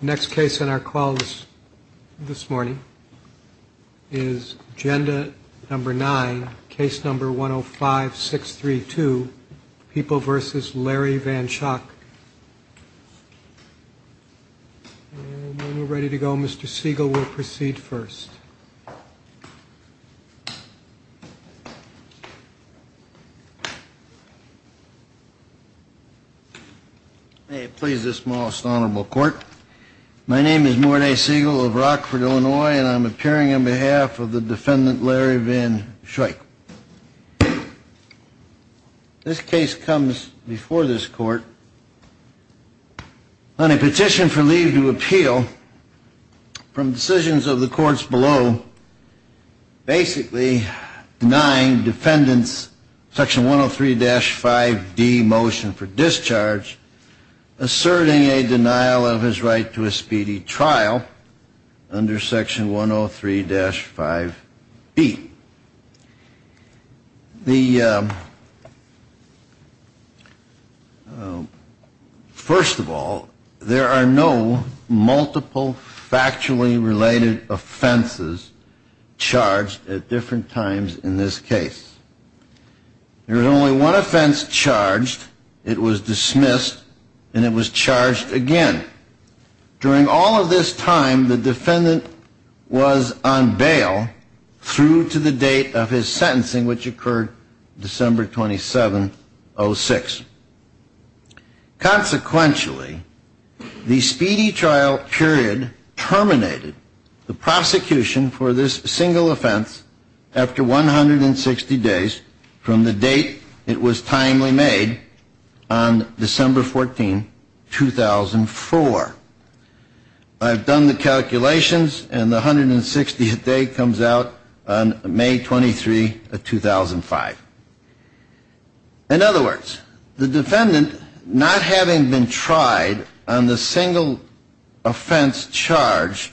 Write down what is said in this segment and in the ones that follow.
Next case on our call this morning is agenda number nine, case number 105-632, People v. Larry Van Schoyck. When we're ready to go, Mr. Siegel will proceed first. May it please this most honorable court, my name is Mort A. Siegel of Rockford, Illinois, and I'm appearing on behalf of the defendant Larry Van Schoyck. This case comes before this court on a petition for leave to appeal from decisions of the courts below, basically denying defendant's section 103-5D motion for discharge, asserting a denial of his right to a speedy trial under section 103-5B. The, first of all, there are no multiple factually related offenses charged at different times in this case. There is only one offense charged, it was dismissed and it was charged again. During all of this time, the defendant was on bail through to the date of his sentencing, which occurred December 27, 06. Consequentially, the speedy trial period terminated the prosecution for this single offense after 160 days from the date it was timely made on December 14, 2004. I've done the calculations and the 160th day comes out on May 23, 2005. In other words, the defendant, not having been tried on the single offense charged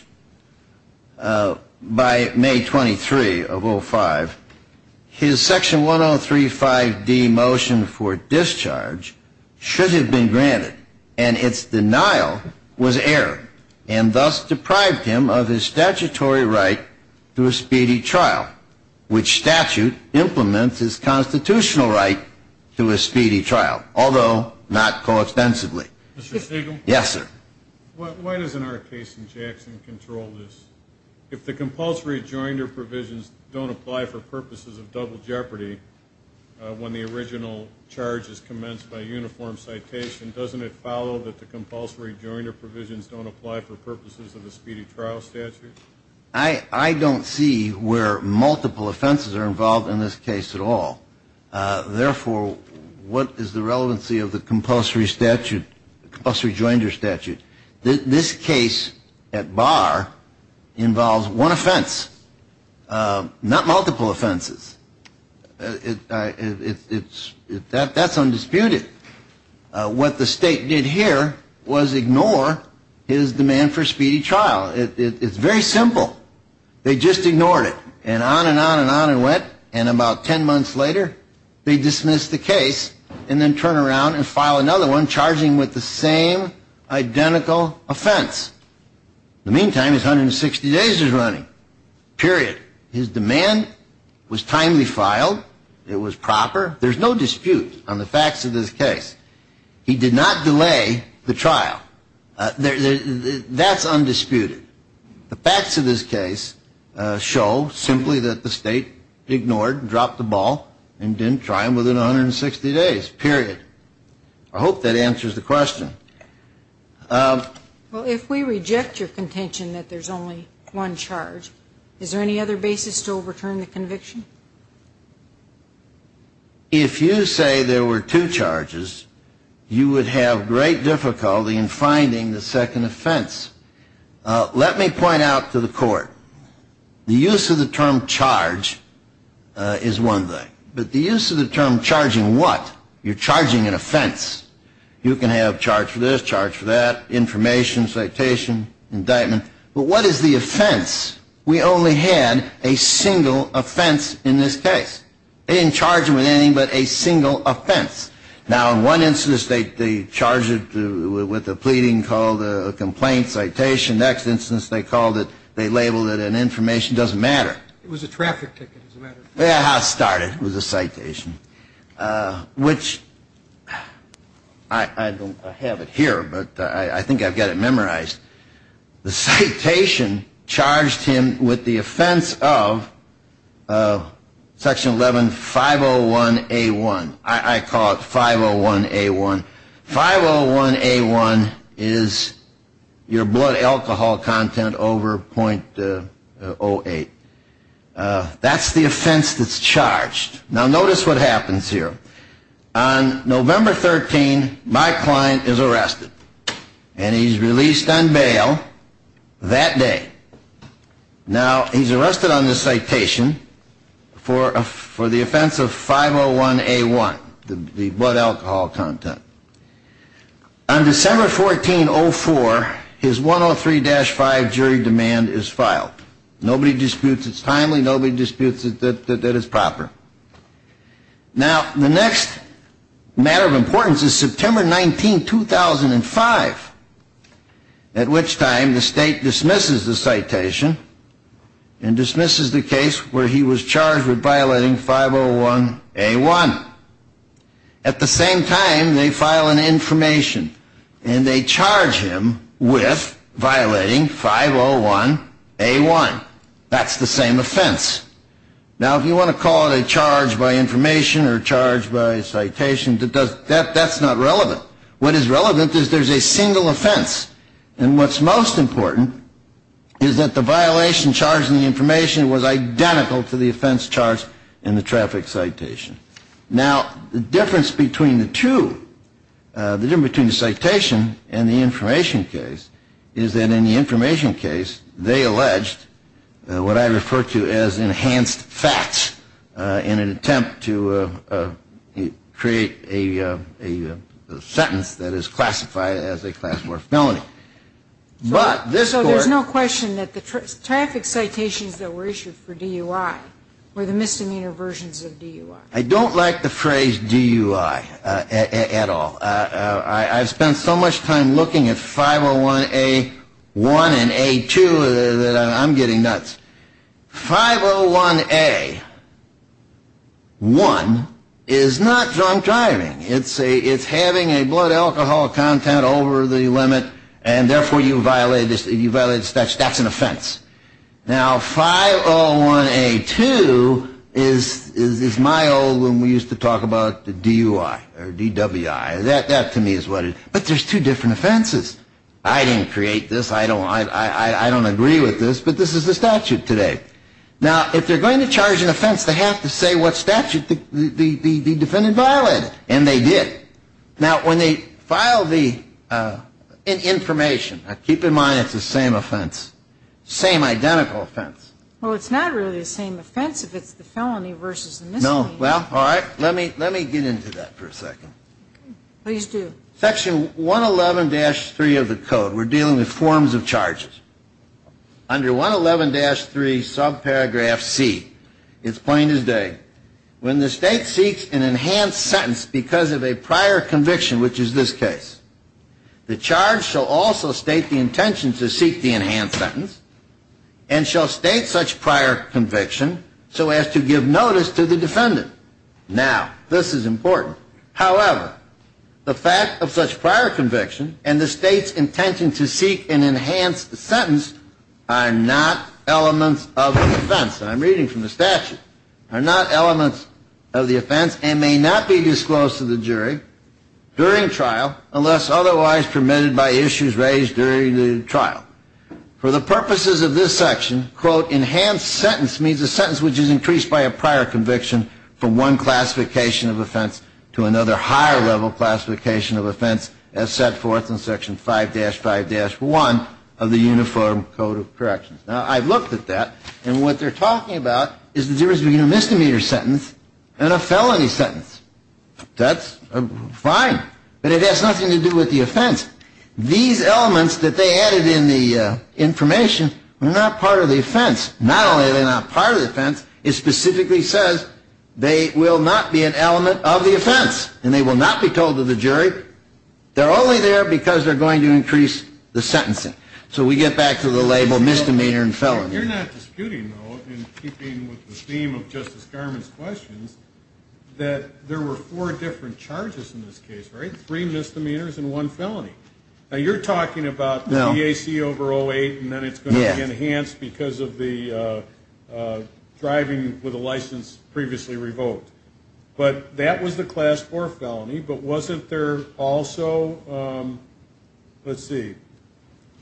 by May 23 of 05, his section 103-5D motion for discharge should have been granted. And its denial was error, and thus deprived him of his statutory right to a speedy trial, which statute implements his constitutional right to a speedy trial, although not coextensively. Mr. Stegall? Yes, sir. Why doesn't our case in Jackson control this? If the compulsory joinder provisions don't apply for purposes of double jeopardy when the original charge is commenced by uniform citation, doesn't it follow that the compulsory joinder provisions don't apply for purposes of the speedy trial statute? I don't see where multiple offenses are involved in this case at all. Therefore, what is the relevancy of the compulsory statute, compulsory joinder statute? This case at bar involves one offense, not multiple offenses. That's undisputed. What the state did here was ignore his demand for a speedy trial. It's very simple. They just ignored it, and on and on and on it went, and about 10 months later, they dismissed the case and then turn around and file another one, charging him with the same identical offense. In the meantime, his 160 days is running. Period. His demand was timely filed. It was proper. There's no dispute on the facts of this case. He did not delay the trial. That's undisputed. The facts of this case show simply that the state ignored and dropped the ball and didn't try him within 160 days. Period. I hope that answers the question. Well, if we reject your contention that there's only one charge, is there any other basis to overturn the conviction? If you say there were two charges, you would have great difficulty in finding the second offense. Let me point out to the court, the use of the term charge is one thing, but the use of the term charging what? You're charging an offense. You can have charge for this, charge for that, information, citation, indictment, but what is the offense? We only had a single offense in this case. They didn't charge him with anything but a single offense. Now, in one instance, they charged him with a pleading called a complaint, citation. Next instance, they called it, they labeled it an information. It doesn't matter. It was a traffic ticket. It doesn't matter. Well, that's how it started. It was a citation, which I don't have it here, but I think I've got it memorized. The citation charged him with the offense of Section 11-501A1. I call it 501A1. 501A1 is your blood alcohol content over .08. That's the offense that's charged. Now, notice what happens here. On November 13, my client is arrested, and he's released on bail that day. Now, he's arrested on this citation for the offense of 501A1, the blood alcohol content. On December 14, 04, his 103-5 jury demand is filed. Nobody disputes it's timely. Nobody disputes that it's proper. Now, the next matter of importance is September 19, 2005, at which time the state dismisses the citation and dismisses the case where he was charged with violating 501A1. At the same time, they file an information, and they charge him with violating 501A1. That's the same offense. Now, if you want to call it a charge by information or a charge by citation, that's not relevant. What is relevant is there's a single offense. And what's most important is that the violation charged in the information was identical to the offense charged in the traffic citation. Now, the difference between the two, the difference between the citation and the information case, is that in the information case, they alleged what I refer to as enhanced facts in an attempt to create a sentence that is classified as a class war felony. So there's no question that the traffic citations that were issued for DUI were the misdemeanor versions of DUI. I don't like the phrase DUI at all. I've spent so much time looking at 501A1 and A2 that I'm getting nuts. 501A1 is not drunk driving. It's having a blood alcohol content over the limit, and therefore you violated the statute. That's an offense. Now, 501A2 is my old one we used to talk about, the DUI or DWI. That to me is what it is. But there's two different offenses. I didn't create this. I don't agree with this. But this is the statute today. Now, if they're going to charge an offense, they have to say what statute the defendant violated. And they did. Now, when they file the information, keep in mind it's the same offense, same identical offense. Well, it's not really the same offense if it's the felony versus the misdemeanor. No. Well, all right. Let me get into that for a second. Please do. Section 111-3 of the code, we're dealing with forms of charges. Under 111-3 subparagraph C, it's plain as day. When the state seeks an enhanced sentence because of a prior conviction, which is this case, the charge shall also state the intention to seek the enhanced sentence and shall state such prior conviction so as to give notice to the defendant. Now, this is important. However, the fact of such prior conviction and the state's intention to seek an enhanced sentence are not elements of the offense. And I'm reading from the statute. Are not elements of the offense and may not be disclosed to the jury during trial unless otherwise permitted by issues raised during the trial. For the purposes of this section, quote, enhanced sentence means a sentence which is increased by a prior conviction from one classification of offense to another higher level classification of offense as set forth in Section 5-5-1 of the Uniform Code of Corrections. Now, I've looked at that. And what they're talking about is there is a misdemeanor sentence and a felony sentence. That's fine. But it has nothing to do with the offense. These elements that they added in the information are not part of the offense. Not only are they not part of the offense, it specifically says they will not be an element of the offense. And they will not be told to the jury. They're only there because they're going to increase the sentencing. So we get back to the label misdemeanor and felony. You're not disputing, though, in keeping with the theme of Justice Garmon's questions, that there were four different charges in this case, right? Three misdemeanors and one felony. Now, you're talking about EAC over 08, and then it's going to be enhanced because of the driving with a license previously revoked. But that was the Class 4 felony. But wasn't there also, let's see,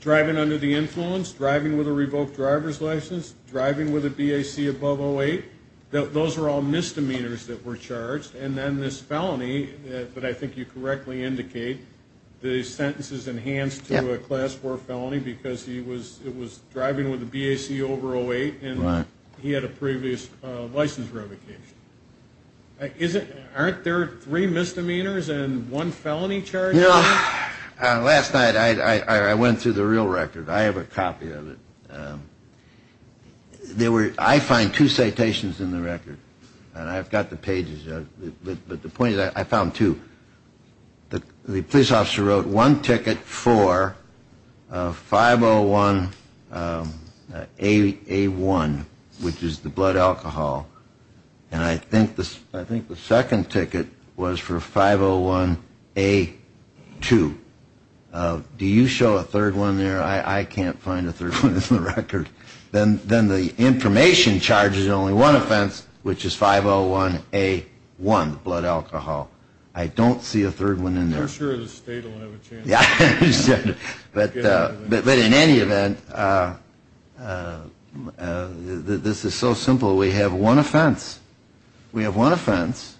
driving under the influence, driving with a revoked driver's license, driving with a BAC above 08? Those were all misdemeanors that were charged. And then this felony that I think you correctly indicate, the sentence is enhanced to a Class 4 felony because it was driving with a BAC over 08, and he had a previous license revocation. Aren't there three misdemeanors and one felony charge? Last night I went through the real record. I have a copy of it. I find two citations in the record, and I've got the pages. But the point is I found two. The police officer wrote one ticket for 501A1, which is the blood alcohol, and I think the second ticket was for 501A2. Do you show a third one there? I can't find a third one in the record. Then the information charges only one offense, which is 501A1, blood alcohol. I don't see a third one in there. I'm not sure the state will have a chance. But in any event, this is so simple. We have one offense. We have one offense,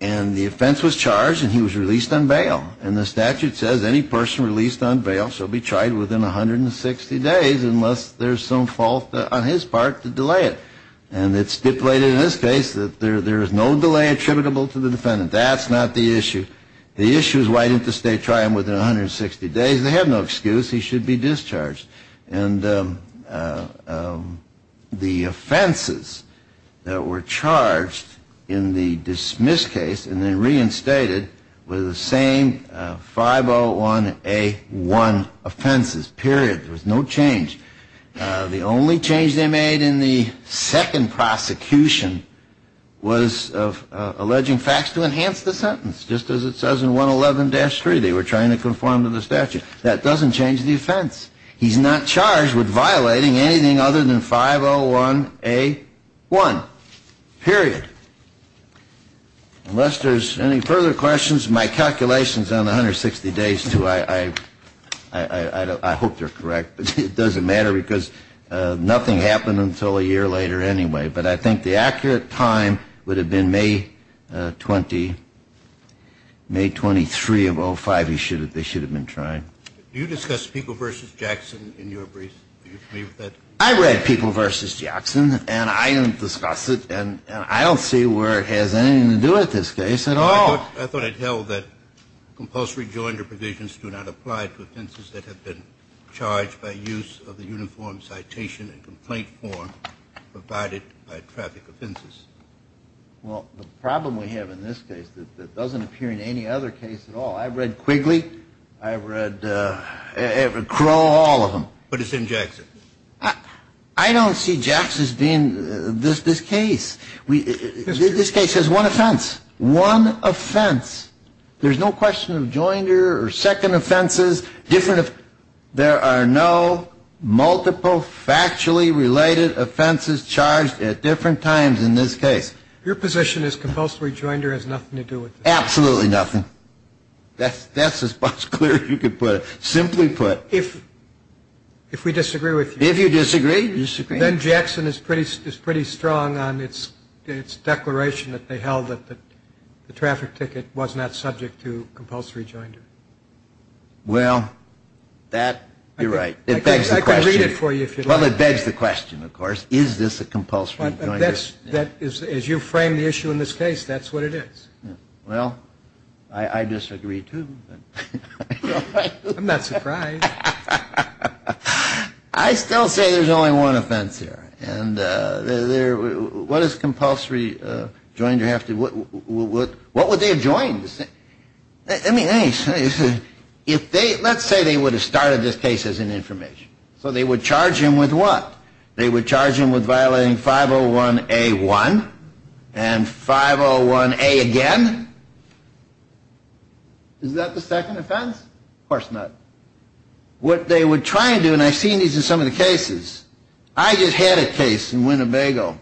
and the offense was charged, and he was released on bail. And the statute says any person released on bail shall be tried within 160 days unless there's some fault on his part to delay it. And it's stipulated in this case that there is no delay attributable to the defendant. That's not the issue. The issue is why didn't the state try him within 160 days? They have no excuse. He should be discharged. And the offenses that were charged in the dismissed case and then reinstated were the same 501A1 offenses, period. There was no change. The only change they made in the second prosecution was alleging facts to enhance the sentence, just as it says in 111-3. They were trying to conform to the statute. That doesn't change the offense. He's not charged with violating anything other than 501A1, period. Unless there's any further questions, my calculations on 160 days, too, I hope they're correct. But it doesn't matter because nothing happened until a year later anyway. But I think the accurate time would have been May 20, May 23 of 05. They should have been trying. Do you discuss Pico v. Jackson in your brief? Do you agree with that? I read Pico v. Jackson. And I didn't discuss it. And I don't see where it has anything to do with this case at all. I thought it held that compulsory jointer provisions do not apply to offenses that have been charged by use of the uniform citation and complaint form provided by traffic offenses. Well, the problem we have in this case that doesn't appear in any other case at all, I've read Quigley, I've read Crow, all of them. But it's in Jackson. I don't see Jackson's being this case. This case has one offense. One offense. There's no question of jointer or second offenses. There are no multiple factually related offenses charged at different times in this case. Your position is compulsory jointer has nothing to do with this? Absolutely nothing. That's as much clear as you could put it. Simply put. If we disagree with you. If you disagree, you disagree. Then Jackson is pretty strong on its declaration that they held that the traffic ticket was not subject to compulsory jointer. Well, you're right. It begs the question. I can read it for you if you'd like. Well, it begs the question, of course. Is this a compulsory jointer? As you frame the issue in this case, that's what it is. Well, I disagree, too. I'm not surprised. I still say there's only one offense here. What is compulsory jointer? What would they have joined? Let's say they would have started this case as an information. So they would charge him with what? They would charge him with violating 501A1 and 501A again. Is that the second offense? Of course not. What they would try and do, and I've seen these in some of the cases. I just had a case in Winnebago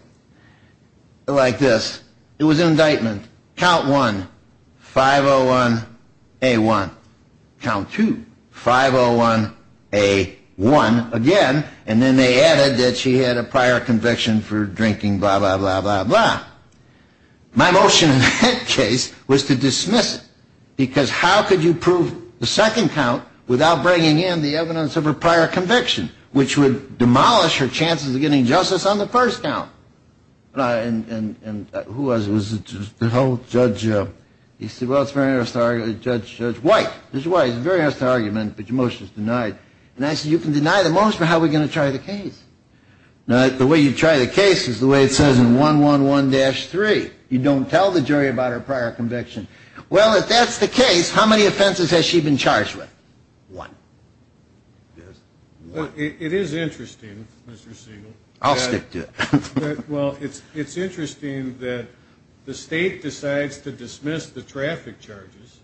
like this. It was an indictment. Count 1, 501A1. Count 2, 501A1 again. And then they added that she had a prior conviction for drinking blah, blah, blah, blah, blah. My motion in that case was to dismiss it. Because how could you prove the second count without bringing in the evidence of her prior conviction, which would demolish her chances of getting justice on the first count? And who was it? Was it the judge? He said, well, it's a very honest argument. Judge White. Judge White, it's a very honest argument, but your motion is denied. And I said, you can deny the motion, but how are we going to try the case? The way you try the case is the way it says in 111-3. You don't tell the jury about her prior conviction. Well, if that's the case, how many offenses has she been charged with? One. It is interesting, Mr. Siegel. I'll stick to it. Well, it's interesting that the state decides to dismiss the traffic charges,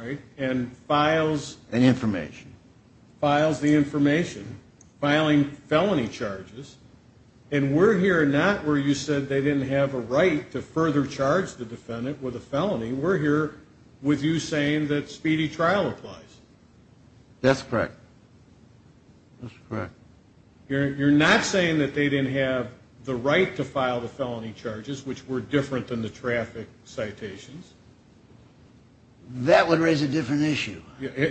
right, and files. And information. Files the information, filing felony charges. And we're here not where you said they didn't have a right to further charge the defendant with a felony. We're here with you saying that speedy trial applies. That's correct. That's correct. You're not saying that they didn't have the right to file the felony charges, which were different than the traffic citations? That would raise a different issue.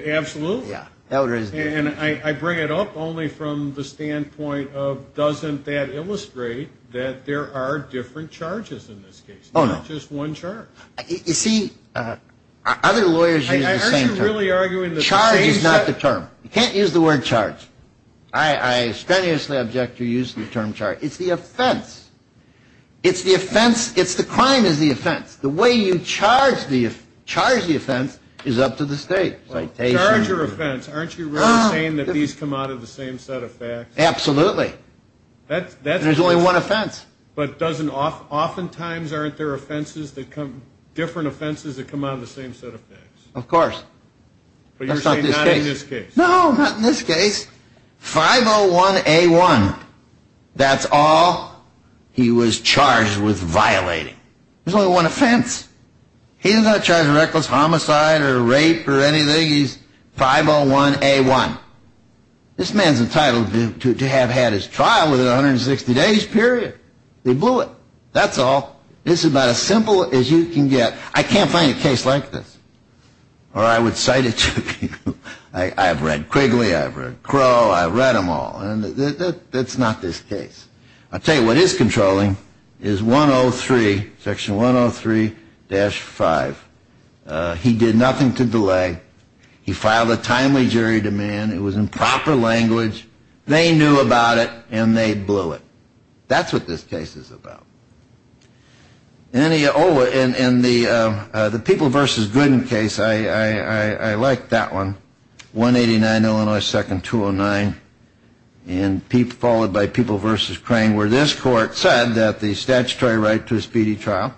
Absolutely. Yeah, that would raise a different issue. And I bring it up only from the standpoint of doesn't that illustrate that there are different charges in this case? Oh, no. Not just one charge. You see, other lawyers use the same term. I heard you really arguing that the same term. Charge is not the term. You can't use the word charge. I strenuously object to using the term charge. It's the offense. It's the offense. It's the crime is the offense. The way you charge the offense is up to the state. Well, charge or offense, aren't you really saying that these come out of the same set of facts? Absolutely. There's only one offense. But doesn't oftentimes aren't there offenses that come, different offenses that come out of the same set of facts? Of course. But you're saying not in this case? No, not in this case. 501A1. That's all he was charged with violating. There's only one offense. He's not charged with reckless homicide or rape or anything. He's 501A1. This man's entitled to have had his trial within 160 days, period. They blew it. That's all. It's about as simple as you can get. I can't find a case like this. Or I would cite it to you. I've read Quigley. I've read Crow. I've read them all. And that's not this case. I'll tell you what is controlling is 103, Section 103-5. He did nothing to delay. He filed a timely jury demand. It was in proper language. They knew about it, and they blew it. That's what this case is about. Oh, and the People v. Gooden case, I like that one, 189, Illinois 2nd, 209, followed by People v. Crane where this court said that the statutory right to a speedy trial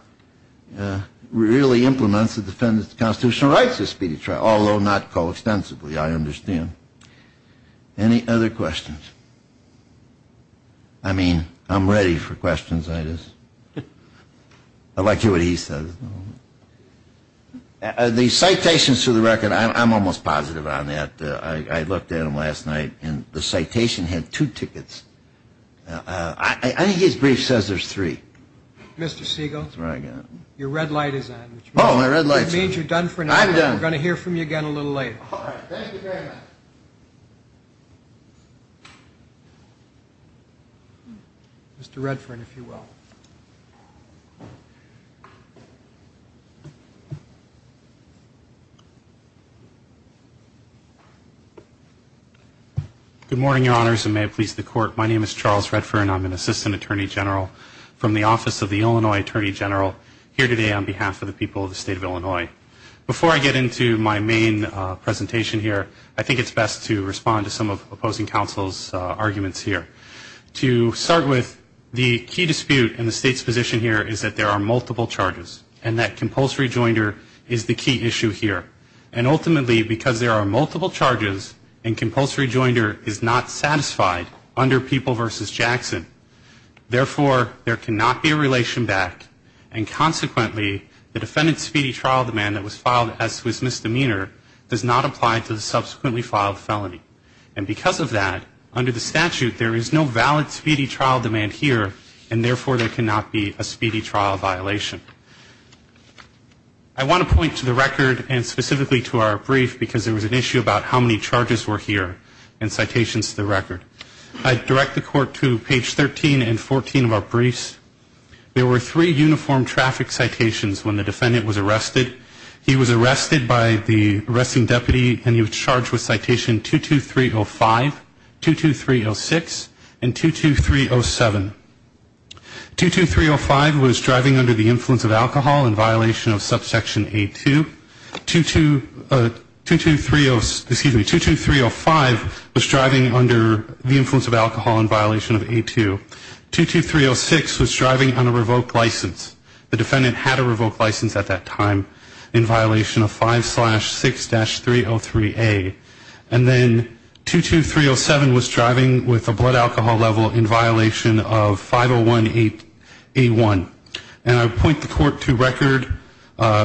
really implements the defendant's constitutional rights to a speedy trial, although not coextensively, I understand. Any other questions? I mean, I'm ready for questions. I like to hear what he says. The citations to the record, I'm almost positive on that. I looked at them last night, and the citation had two tickets. I think his brief says there's three. Mr. Segal, your red light is on. Oh, my red light's on. That means you're done for now. I'm done. We're going to hear from you again a little later. All right. Thank you very much. Mr. Redfern, if you will. Good morning, Your Honors, and may it please the Court. My name is Charles Redfern. I'm an Assistant Attorney General from the Office of the Illinois Attorney General here today on behalf of the people of the state of Illinois. Before I get into my main presentation here, I think it's best to respond to some of opposing counsel's arguments here. To start with, the key dispute in the state's position here is that there are multiple charges and that compulsory joinder is the key issue here. And ultimately, because there are multiple charges and compulsory joinder is not satisfied under People v. Jackson, therefore there cannot be a relation back, and consequently the defendant's speedy trial demand that was filed as his misdemeanor does not apply to the subsequently filed felony. And because of that, under the statute there is no valid speedy trial demand here, and therefore there cannot be a speedy trial violation. I want to point to the record and specifically to our brief because there was an issue about how many charges were here and citations to the record. I direct the Court to page 13 and 14 of our briefs. There were three uniform traffic citations when the defendant was arrested. He was arrested by the arresting deputy and he was charged with citation 22305, 22306, and 22307. 22305 was driving under the influence of alcohol in violation of subsection A2. 22305 was driving under the influence of alcohol in violation of A2. 22306 was driving on a revoked license. The defendant had a revoked license at that time in violation of 5-6-303A. And then 22307 was driving with a blood alcohol level in violation of 5018A1. And I point the Court to record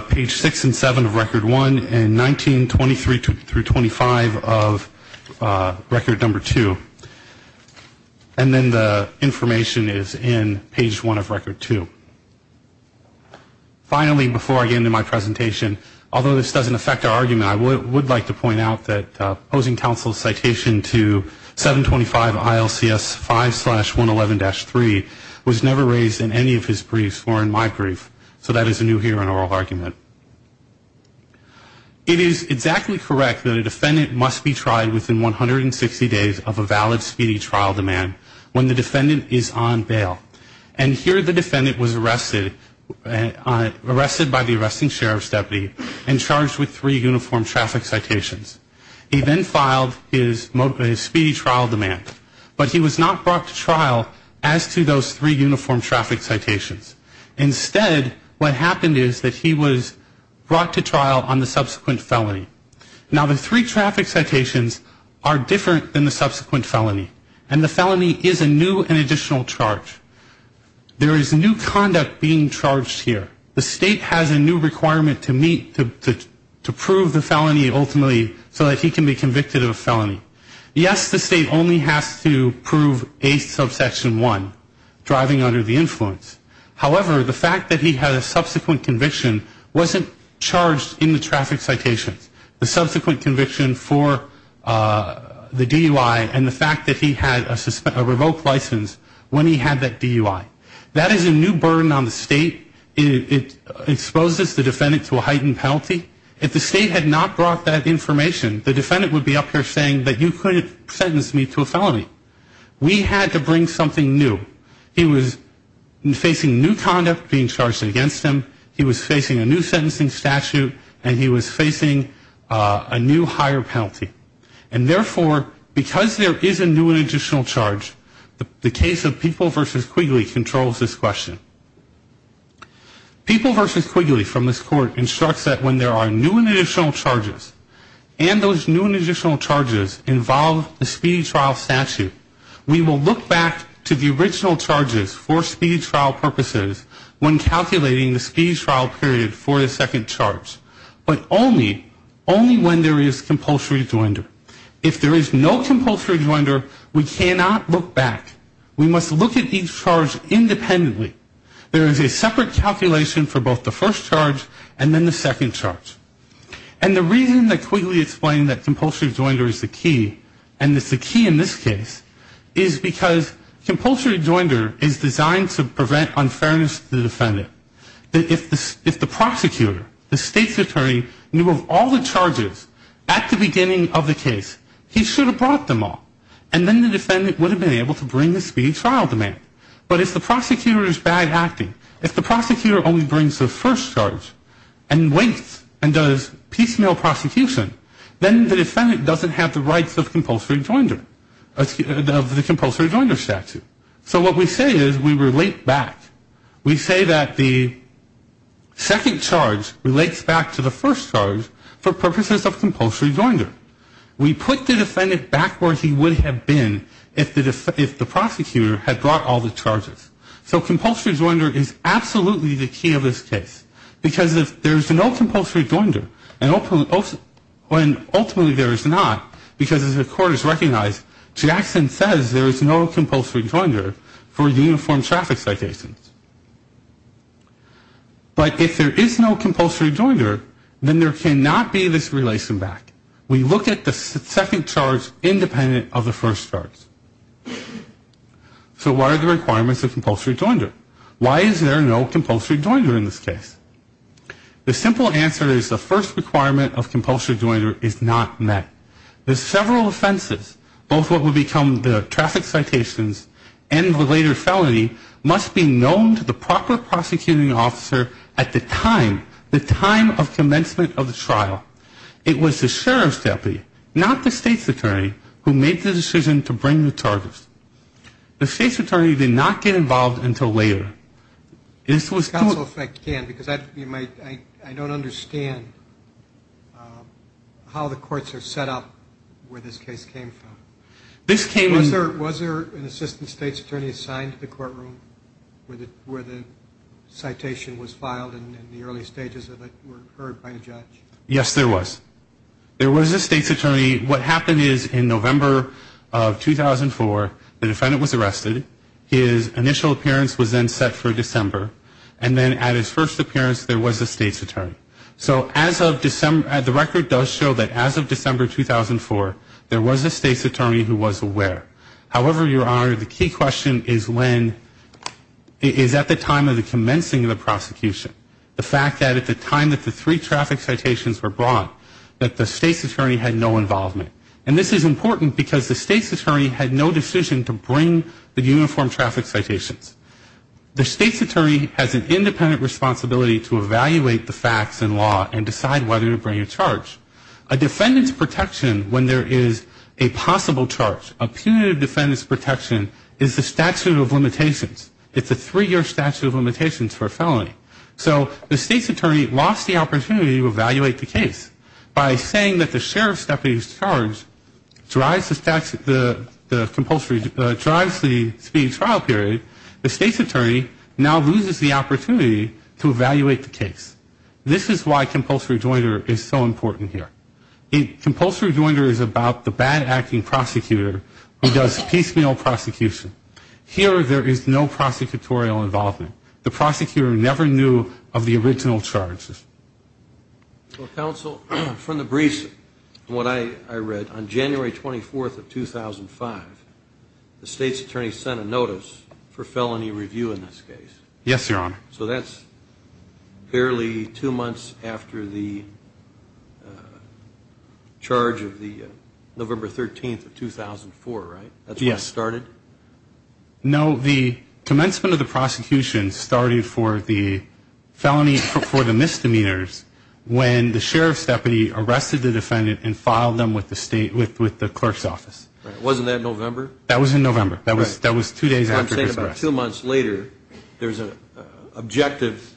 page 6 and 7 of record 1 and 1923 through 25 of record number 2. And then the information is in page 1 of record 2. Finally, before I get into my presentation, although this doesn't affect our argument, I would like to point out that opposing counsel's citation to 725 ILCS 5-111-3 was never raised in any of his briefs or in my brief, so that is a new hearing oral argument. It is exactly correct that a defendant must be tried within 160 days of a valid speedy trial demand when the defendant is on bail. And here the defendant was arrested by the arresting sheriff's deputy and charged with three uniform traffic citations. He then filed his speedy trial demand. But he was not brought to trial as to those three uniform traffic citations. Instead, what happened is that he was brought to trial on the subsequent felony. Now, the three traffic citations are different than the subsequent felony, and the felony is a new and additional charge. There is new conduct being charged here. The State has a new requirement to prove the felony ultimately so that he can be convicted of a felony. Yes, the State only has to prove a subsection one, driving under the influence. However, the fact that he had a subsequent conviction wasn't charged in the traffic citations. The subsequent conviction for the DUI and the fact that he had a revoked license when he had that DUI. That is a new burden on the State. It exposes the defendant to a heightened penalty. If the State had not brought that information, the defendant would be up here saying that you couldn't sentence me to a felony. We had to bring something new. He was facing new conduct being charged against him. He was facing a new sentencing statute, and he was facing a new higher penalty. And therefore, because there is a new and additional charge, the case of People v. Quigley controls this question. People v. Quigley from this Court instructs that when there are new and additional charges, and those new and additional charges involve the speedy trial statute, we will look back to the original charges for speedy trial purposes when calculating the speedy trial period for the second charge, but only when there is compulsory rejoinder. If there is no compulsory rejoinder, we cannot look back. We must look at each charge independently. There is a separate calculation for both the first charge and then the second charge. And the reason that Quigley explained that compulsory rejoinder is the key, and it's the key in this case, is because compulsory rejoinder is designed to prevent unfairness to the defendant. If the prosecutor, the State's attorney, knew of all the charges at the beginning of the case, he should have brought them all. And then the defendant would have been able to bring the speedy trial demand. But if the prosecutor is bad acting, if the prosecutor only brings the first charge and waits and does piecemeal prosecution, then the defendant doesn't have the rights of compulsory rejoinder, of the compulsory rejoinder statute. So what we say is we relate back. We say that the second charge relates back to the first charge for purposes of compulsory rejoinder. We put the defendant back where he would have been if the prosecutor had brought all the charges. So compulsory rejoinder is absolutely the key of this case. Because if there's no compulsory rejoinder, and ultimately there is not, because as the court has recognized, Jackson says there is no compulsory rejoinder for uniform traffic citations. But if there is no compulsory rejoinder, then there cannot be this relation back. We look at the second charge independent of the first charge. So what are the requirements of compulsory rejoinder? Why is there no compulsory rejoinder in this case? The simple answer is the first requirement of compulsory rejoinder is not met. The several offenses, both what would become the traffic citations and the later felony, must be known to the proper prosecuting officer at the time, the time of commencement of the trial. It was the sheriff's deputy, not the state's attorney, who made the decision to bring the charges. The state's attorney did not get involved until later. This was to a... Counsel, if I can, because I don't understand how the courts are set up where this case came from. This came in... Was there an assistant state's attorney assigned to the courtroom where the citation was filed and the early stages of it were heard by a judge? Yes, there was. There was a state's attorney. What happened is in November of 2004, the defendant was arrested. His initial appearance was then set for December. And then at his first appearance, there was a state's attorney. So as of December... The record does show that as of December 2004, there was a state's attorney who was aware. However, Your Honor, the key question is when... Is at the time of the commencing of the prosecution. The fact that at the time that the three traffic citations were brought, that the state's attorney had no involvement. And this is important because the state's attorney had no decision to bring the uniform traffic citations. The state's attorney has an independent responsibility to evaluate the facts and law and decide whether to bring a charge. A defendant's protection when there is a possible charge, a punitive defendant's protection, is the statute of limitations. It's a three-year statute of limitations for a felony. So the state's attorney lost the opportunity to evaluate the case. By saying that the sheriff's deputy's charge drives the speed trial period, the state's attorney now loses the opportunity to evaluate the case. This is why compulsory joinder is so important here. Compulsory joinder is about the bad acting prosecutor who does piecemeal prosecution. Here there is no prosecutorial involvement. The prosecutor never knew of the original charges. Well, counsel, from the briefs and what I read, on January 24th of 2005, the state's attorney sent a notice for felony review in this case. Yes, Your Honor. So that's barely two months after the charge of the November 13th of 2004, right? Yes. That's when it started? No, the commencement of the prosecution started for the felony for the misdemeanors when the sheriff's deputy arrested the defendant and filed them with the state, with the clerk's office. Wasn't that November? That was in November. Right. That was two days after his arrest. I'm saying about two months later there's an objective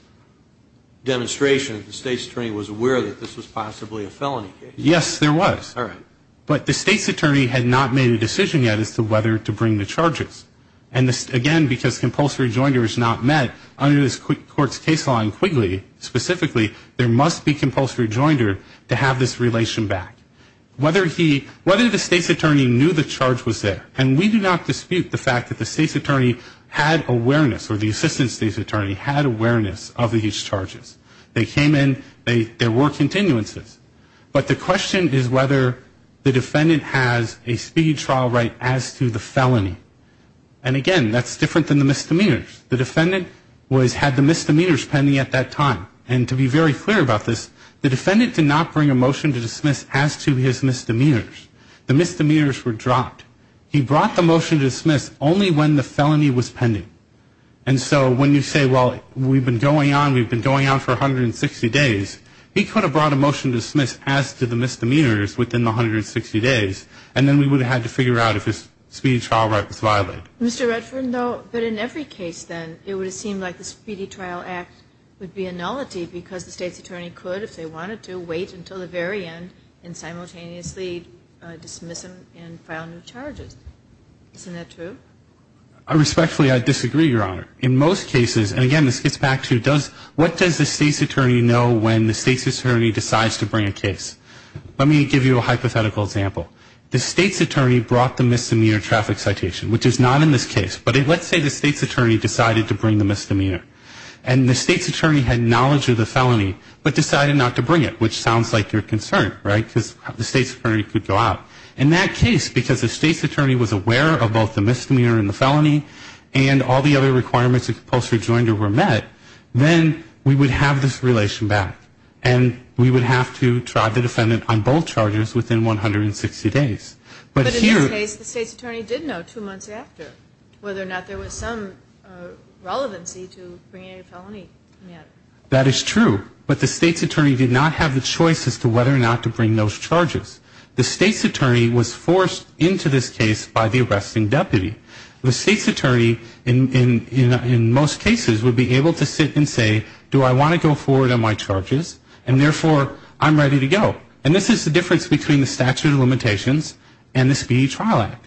demonstration that the state's attorney was aware that this was possibly a felony case. Yes, there was. All right. But the state's attorney had not made a decision yet as to whether to bring the charges. And, again, because compulsory joinder is not met under this court's case law in Quigley specifically, there must be compulsory joinder to have this relation back. Whether the state's attorney knew the charge was there, and we do not dispute the fact that the state's attorney had awareness or the assistant state's attorney had awareness of these charges. They came in, there were continuances. But the question is whether the defendant has a speed trial right as to the felony. And, again, that's different than the misdemeanors. The defendant had the misdemeanors pending at that time. And to be very clear about this, the defendant did not bring a motion to dismiss as to his misdemeanors. The misdemeanors were dropped. He brought the motion to dismiss only when the felony was pending. And so when you say, well, we've been going on, we've been going on for 160 days, he could have brought a motion to dismiss as to the misdemeanors within the 160 days, and then we would have had to figure out if his speedy trial right was violated. Mr. Redford, no, but in every case, then, it would have seemed like the Speedy Trial Act would be a nullity because the state's attorney could, if they wanted to, wait until the very end and simultaneously dismiss him and file new charges. Isn't that true? Respectfully, I disagree, Your Honor. In most cases, and again, this gets back to what does the state's attorney know when the state's attorney decides to bring a case? Let me give you a hypothetical example. The state's attorney brought the misdemeanor traffic citation, which is not in this case, but let's say the state's attorney decided to bring the misdemeanor. And the state's attorney had knowledge of the felony but decided not to bring it, which sounds like your concern, right, because the state's attorney could go out. In that case, because the state's attorney was aware of both the misdemeanor and the felony and all the other requirements of compulsory joinder were met, then we would have this relation back. And we would have to try the defendant on both charges within 160 days. But in this case, the state's attorney did know two months after whether or not there was some relevancy to bringing a felony. That is true, but the state's attorney did not have the choice as to whether or not to bring those charges. The state's attorney was forced into this case by the arresting deputy. The state's attorney, in most cases, would be able to sit and say, do I want to go forward on my charges and, therefore, I'm ready to go. And this is the difference between the statute of limitations and the Speedy Trial Act.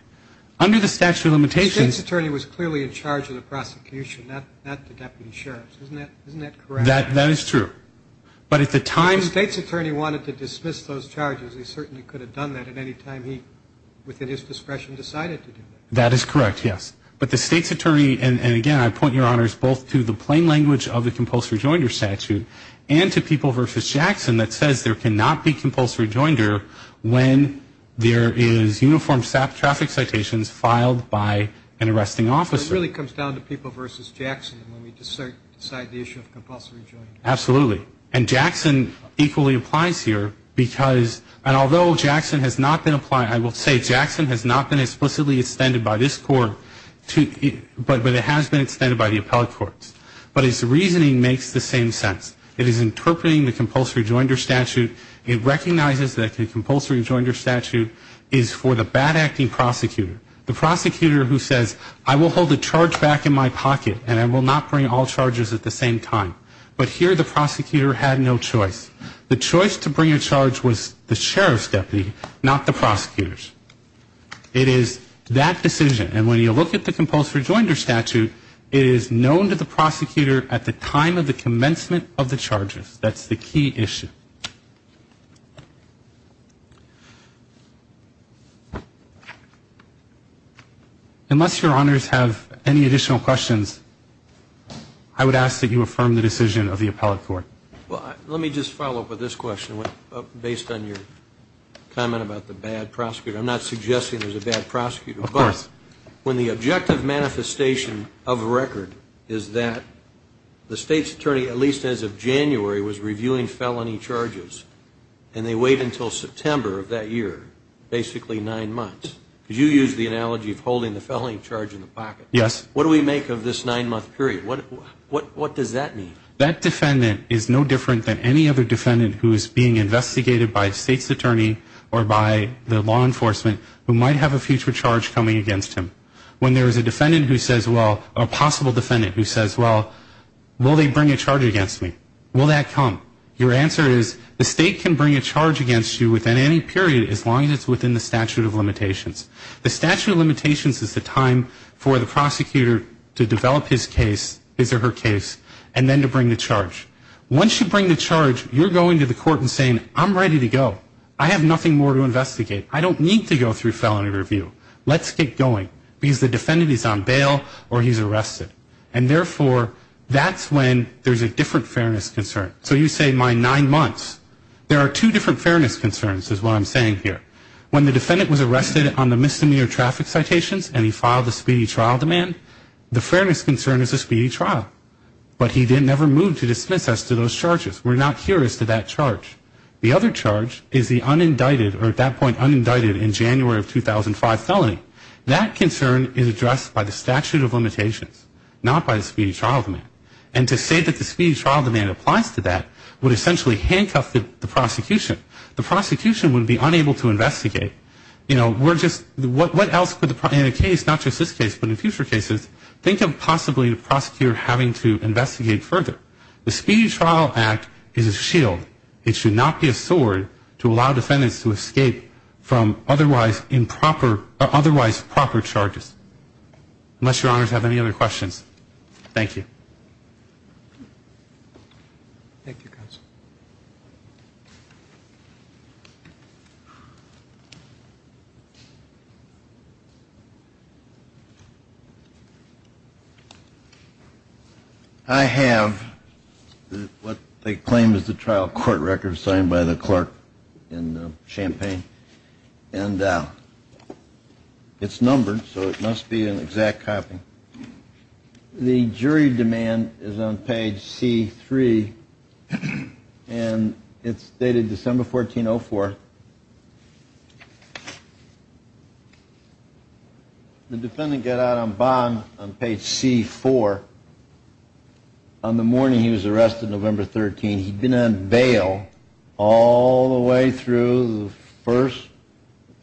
Under the statute of limitations ---- The state's attorney was clearly in charge of the prosecution, not the deputy sheriff. Isn't that correct? That is true. But at the time ---- If the state's attorney wanted to dismiss those charges, he certainly could have done that at any time he, within his discretion, decided to do that. That is correct, yes. But the state's attorney ---- And, again, I point your honors both to the plain language of the compulsory rejoinder statute and to People v. Jackson that says there cannot be compulsory rejoinder when there is uniform traffic citations filed by an arresting officer. So it really comes down to People v. Jackson when we decide the issue of compulsory rejoinder. Absolutely. And Jackson equally applies here because ---- I will say Jackson has not been explicitly extended by this court, but it has been extended by the appellate courts. But its reasoning makes the same sense. It is interpreting the compulsory rejoinder statute. It recognizes that the compulsory rejoinder statute is for the bad-acting prosecutor, the prosecutor who says, I will hold the charge back in my pocket and I will not bring all charges at the same time. But here the prosecutor had no choice. The choice to bring a charge was the sheriff's deputy, not the prosecutor's. It is that decision. And when you look at the compulsory rejoinder statute, it is known to the prosecutor at the time of the commencement of the charges. That's the key issue. Unless your honors have any additional questions, I would ask that you affirm the decision of the appellate court. Well, let me just follow up with this question based on your comment about the bad prosecutor. I'm not suggesting there's a bad prosecutor. Of course. When the objective manifestation of a record is that the state's attorney, at least as of January, was reviewing felony charges, and they wait until September of that year, basically nine months. You used the analogy of holding the felony charge in the pocket. Yes. What do we make of this nine-month period? What does that mean? That defendant is no different than any other defendant who is being investigated by a state's attorney or by the law enforcement who might have a future charge coming against him. When there is a defendant who says, well, a possible defendant who says, well, will they bring a charge against me? Will that come? Your answer is the state can bring a charge against you within any period, as long as it's within the statute of limitations. The statute of limitations is the time for the prosecutor to develop his case, his or her case, and then to bring the charge. Once you bring the charge, you're going to the court and saying, I'm ready to go. I have nothing more to investigate. I don't need to go through felony review. Let's get going because the defendant is on bail or he's arrested. And, therefore, that's when there's a different fairness concern. So you say my nine months. There are two different fairness concerns is what I'm saying here. When the defendant was arrested on the misdemeanor traffic citations and he filed a speedy trial demand, the fairness concern is a speedy trial. But he never moved to dismiss us to those charges. We're not here as to that charge. The other charge is the unindicted or, at that point, unindicted in January of 2005 felony. That concern is addressed by the statute of limitations, not by the speedy trial demand. And to say that the speedy trial demand applies to that would essentially handcuff the prosecution. The prosecution would be unable to investigate. You know, we're just, what else could the, in a case, not just this case, but in future cases, think of possibly the prosecutor having to investigate further. The speedy trial act is a shield. It should not be a sword to allow defendants to escape from otherwise improper, otherwise proper charges. Unless your honors have any other questions. Thank you. Thank you, counsel. I have what they claim is the trial court record signed by the clerk in Champaign. And it's numbered, so it must be an exact copy. The jury demand is on page C3. And it's dated December 14, 04. The defendant got out on bond on page C4. On the morning he was arrested, November 13, he'd been on bail all the way through the first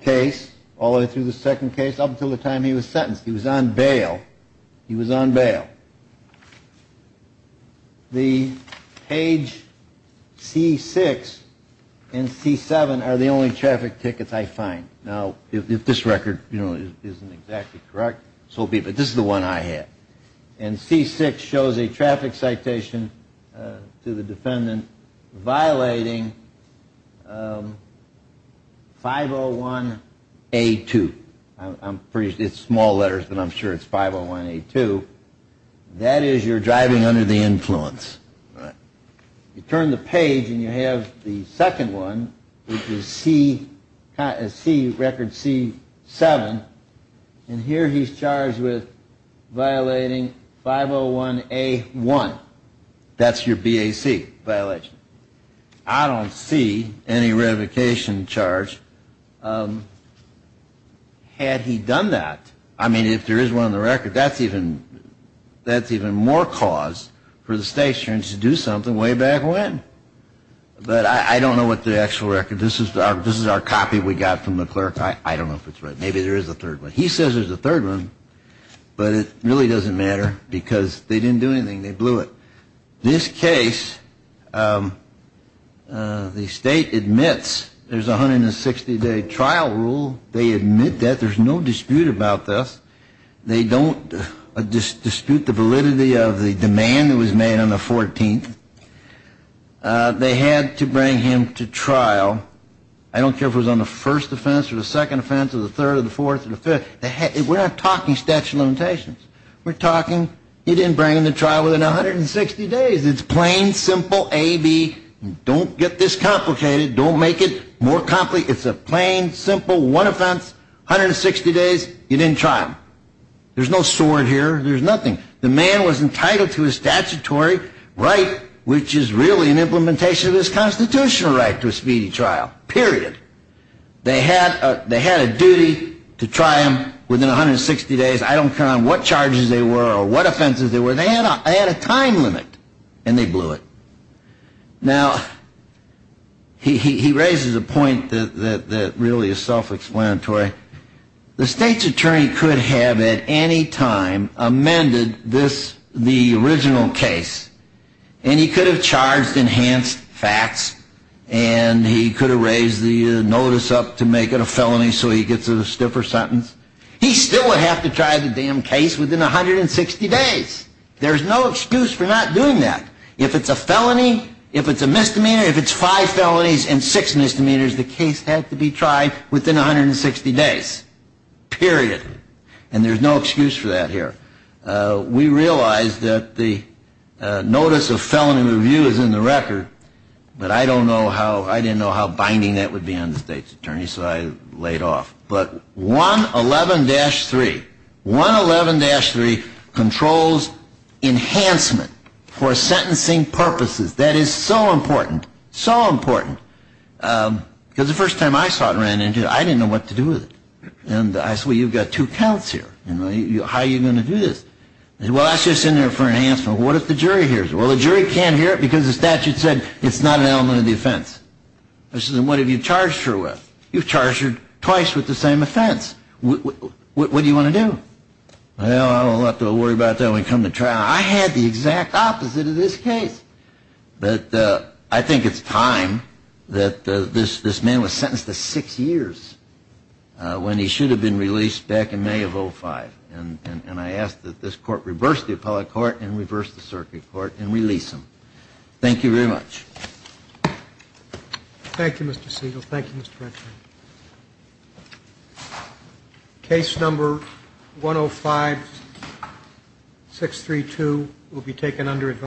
case, all the way through the second case, up until the time he was sentenced. He was on bail. He was on bail. The page C6 and C7 are the only traffic tickets I find. Now, if this record, you know, isn't exactly correct, so be it. But this is the one I have. And C6 shows a traffic citation to the defendant violating 501A2. It's small letters, but I'm sure it's 501A2. That is you're driving under the influence. You turn the page and you have the second one, which is record C7. And here he's charged with violating 501A1. That's your BAC violation. I don't see any revocation charge. Had he done that, I mean, if there is one on the record, that's even more cause for the state attorney to do something way back when. But I don't know what the actual record. This is our copy we got from the clerk. I don't know if it's right. Maybe there is a third one. He says there's a third one, but it really doesn't matter because they didn't do anything. They blew it. This case, the state admits there's a 160-day trial rule. They admit that. There's no dispute about this. They don't dispute the validity of the demand that was made on the 14th. They had to bring him to trial. I don't care if it was on the first offense or the second offense or the third or the fourth or the fifth. We're not talking statute of limitations. We're talking you didn't bring him to trial within 160 days. It's plain, simple, A, B. Don't get this complicated. Don't make it more complicated. It's a plain, simple, one offense, 160 days, you didn't try him. There's no sword here. There's nothing. The man was entitled to his statutory right, which is really an implementation of his constitutional right to a speedy trial, period. They had a duty to try him within 160 days. I don't care on what charges they were or what offenses they were. They had a time limit, and they blew it. Now, he raises a point that really is self-explanatory. The state's attorney could have at any time amended this, the original case, and he could have charged enhanced facts, and he could have raised the notice up to make it a felony so he gets a stiffer sentence. He still would have to try the damn case within 160 days. There's no excuse for not doing that. If it's a felony, if it's a misdemeanor, if it's five felonies and six misdemeanors, the case had to be tried within 160 days, period. And there's no excuse for that here. We realize that the notice of felony review is in the record, but I didn't know how binding that would be on the state's attorney, so I laid off. But 111-3, 111-3 controls enhancement for sentencing purposes. That is so important, so important. Because the first time I saw it and ran into it, I didn't know what to do with it. And I said, well, you've got two counts here. How are you going to do this? Well, that's just in there for enhancement. What if the jury hears it? Well, the jury can't hear it because the statute said it's not an element of the offense. I said, then what have you charged her with? You've charged her twice with the same offense. What do you want to do? Well, I don't have to worry about that when we come to trial. I had the exact opposite of this case. But I think it's time that this man was sentenced to six years when he should have been released back in May of 05. And I ask that this court reverse the appellate court and reverse the circuit court and release him. Thank you very much. Thank you, Mr. Siegel. Thank you, Mr. Redfern. Case number 105-632 will be taken under advisory.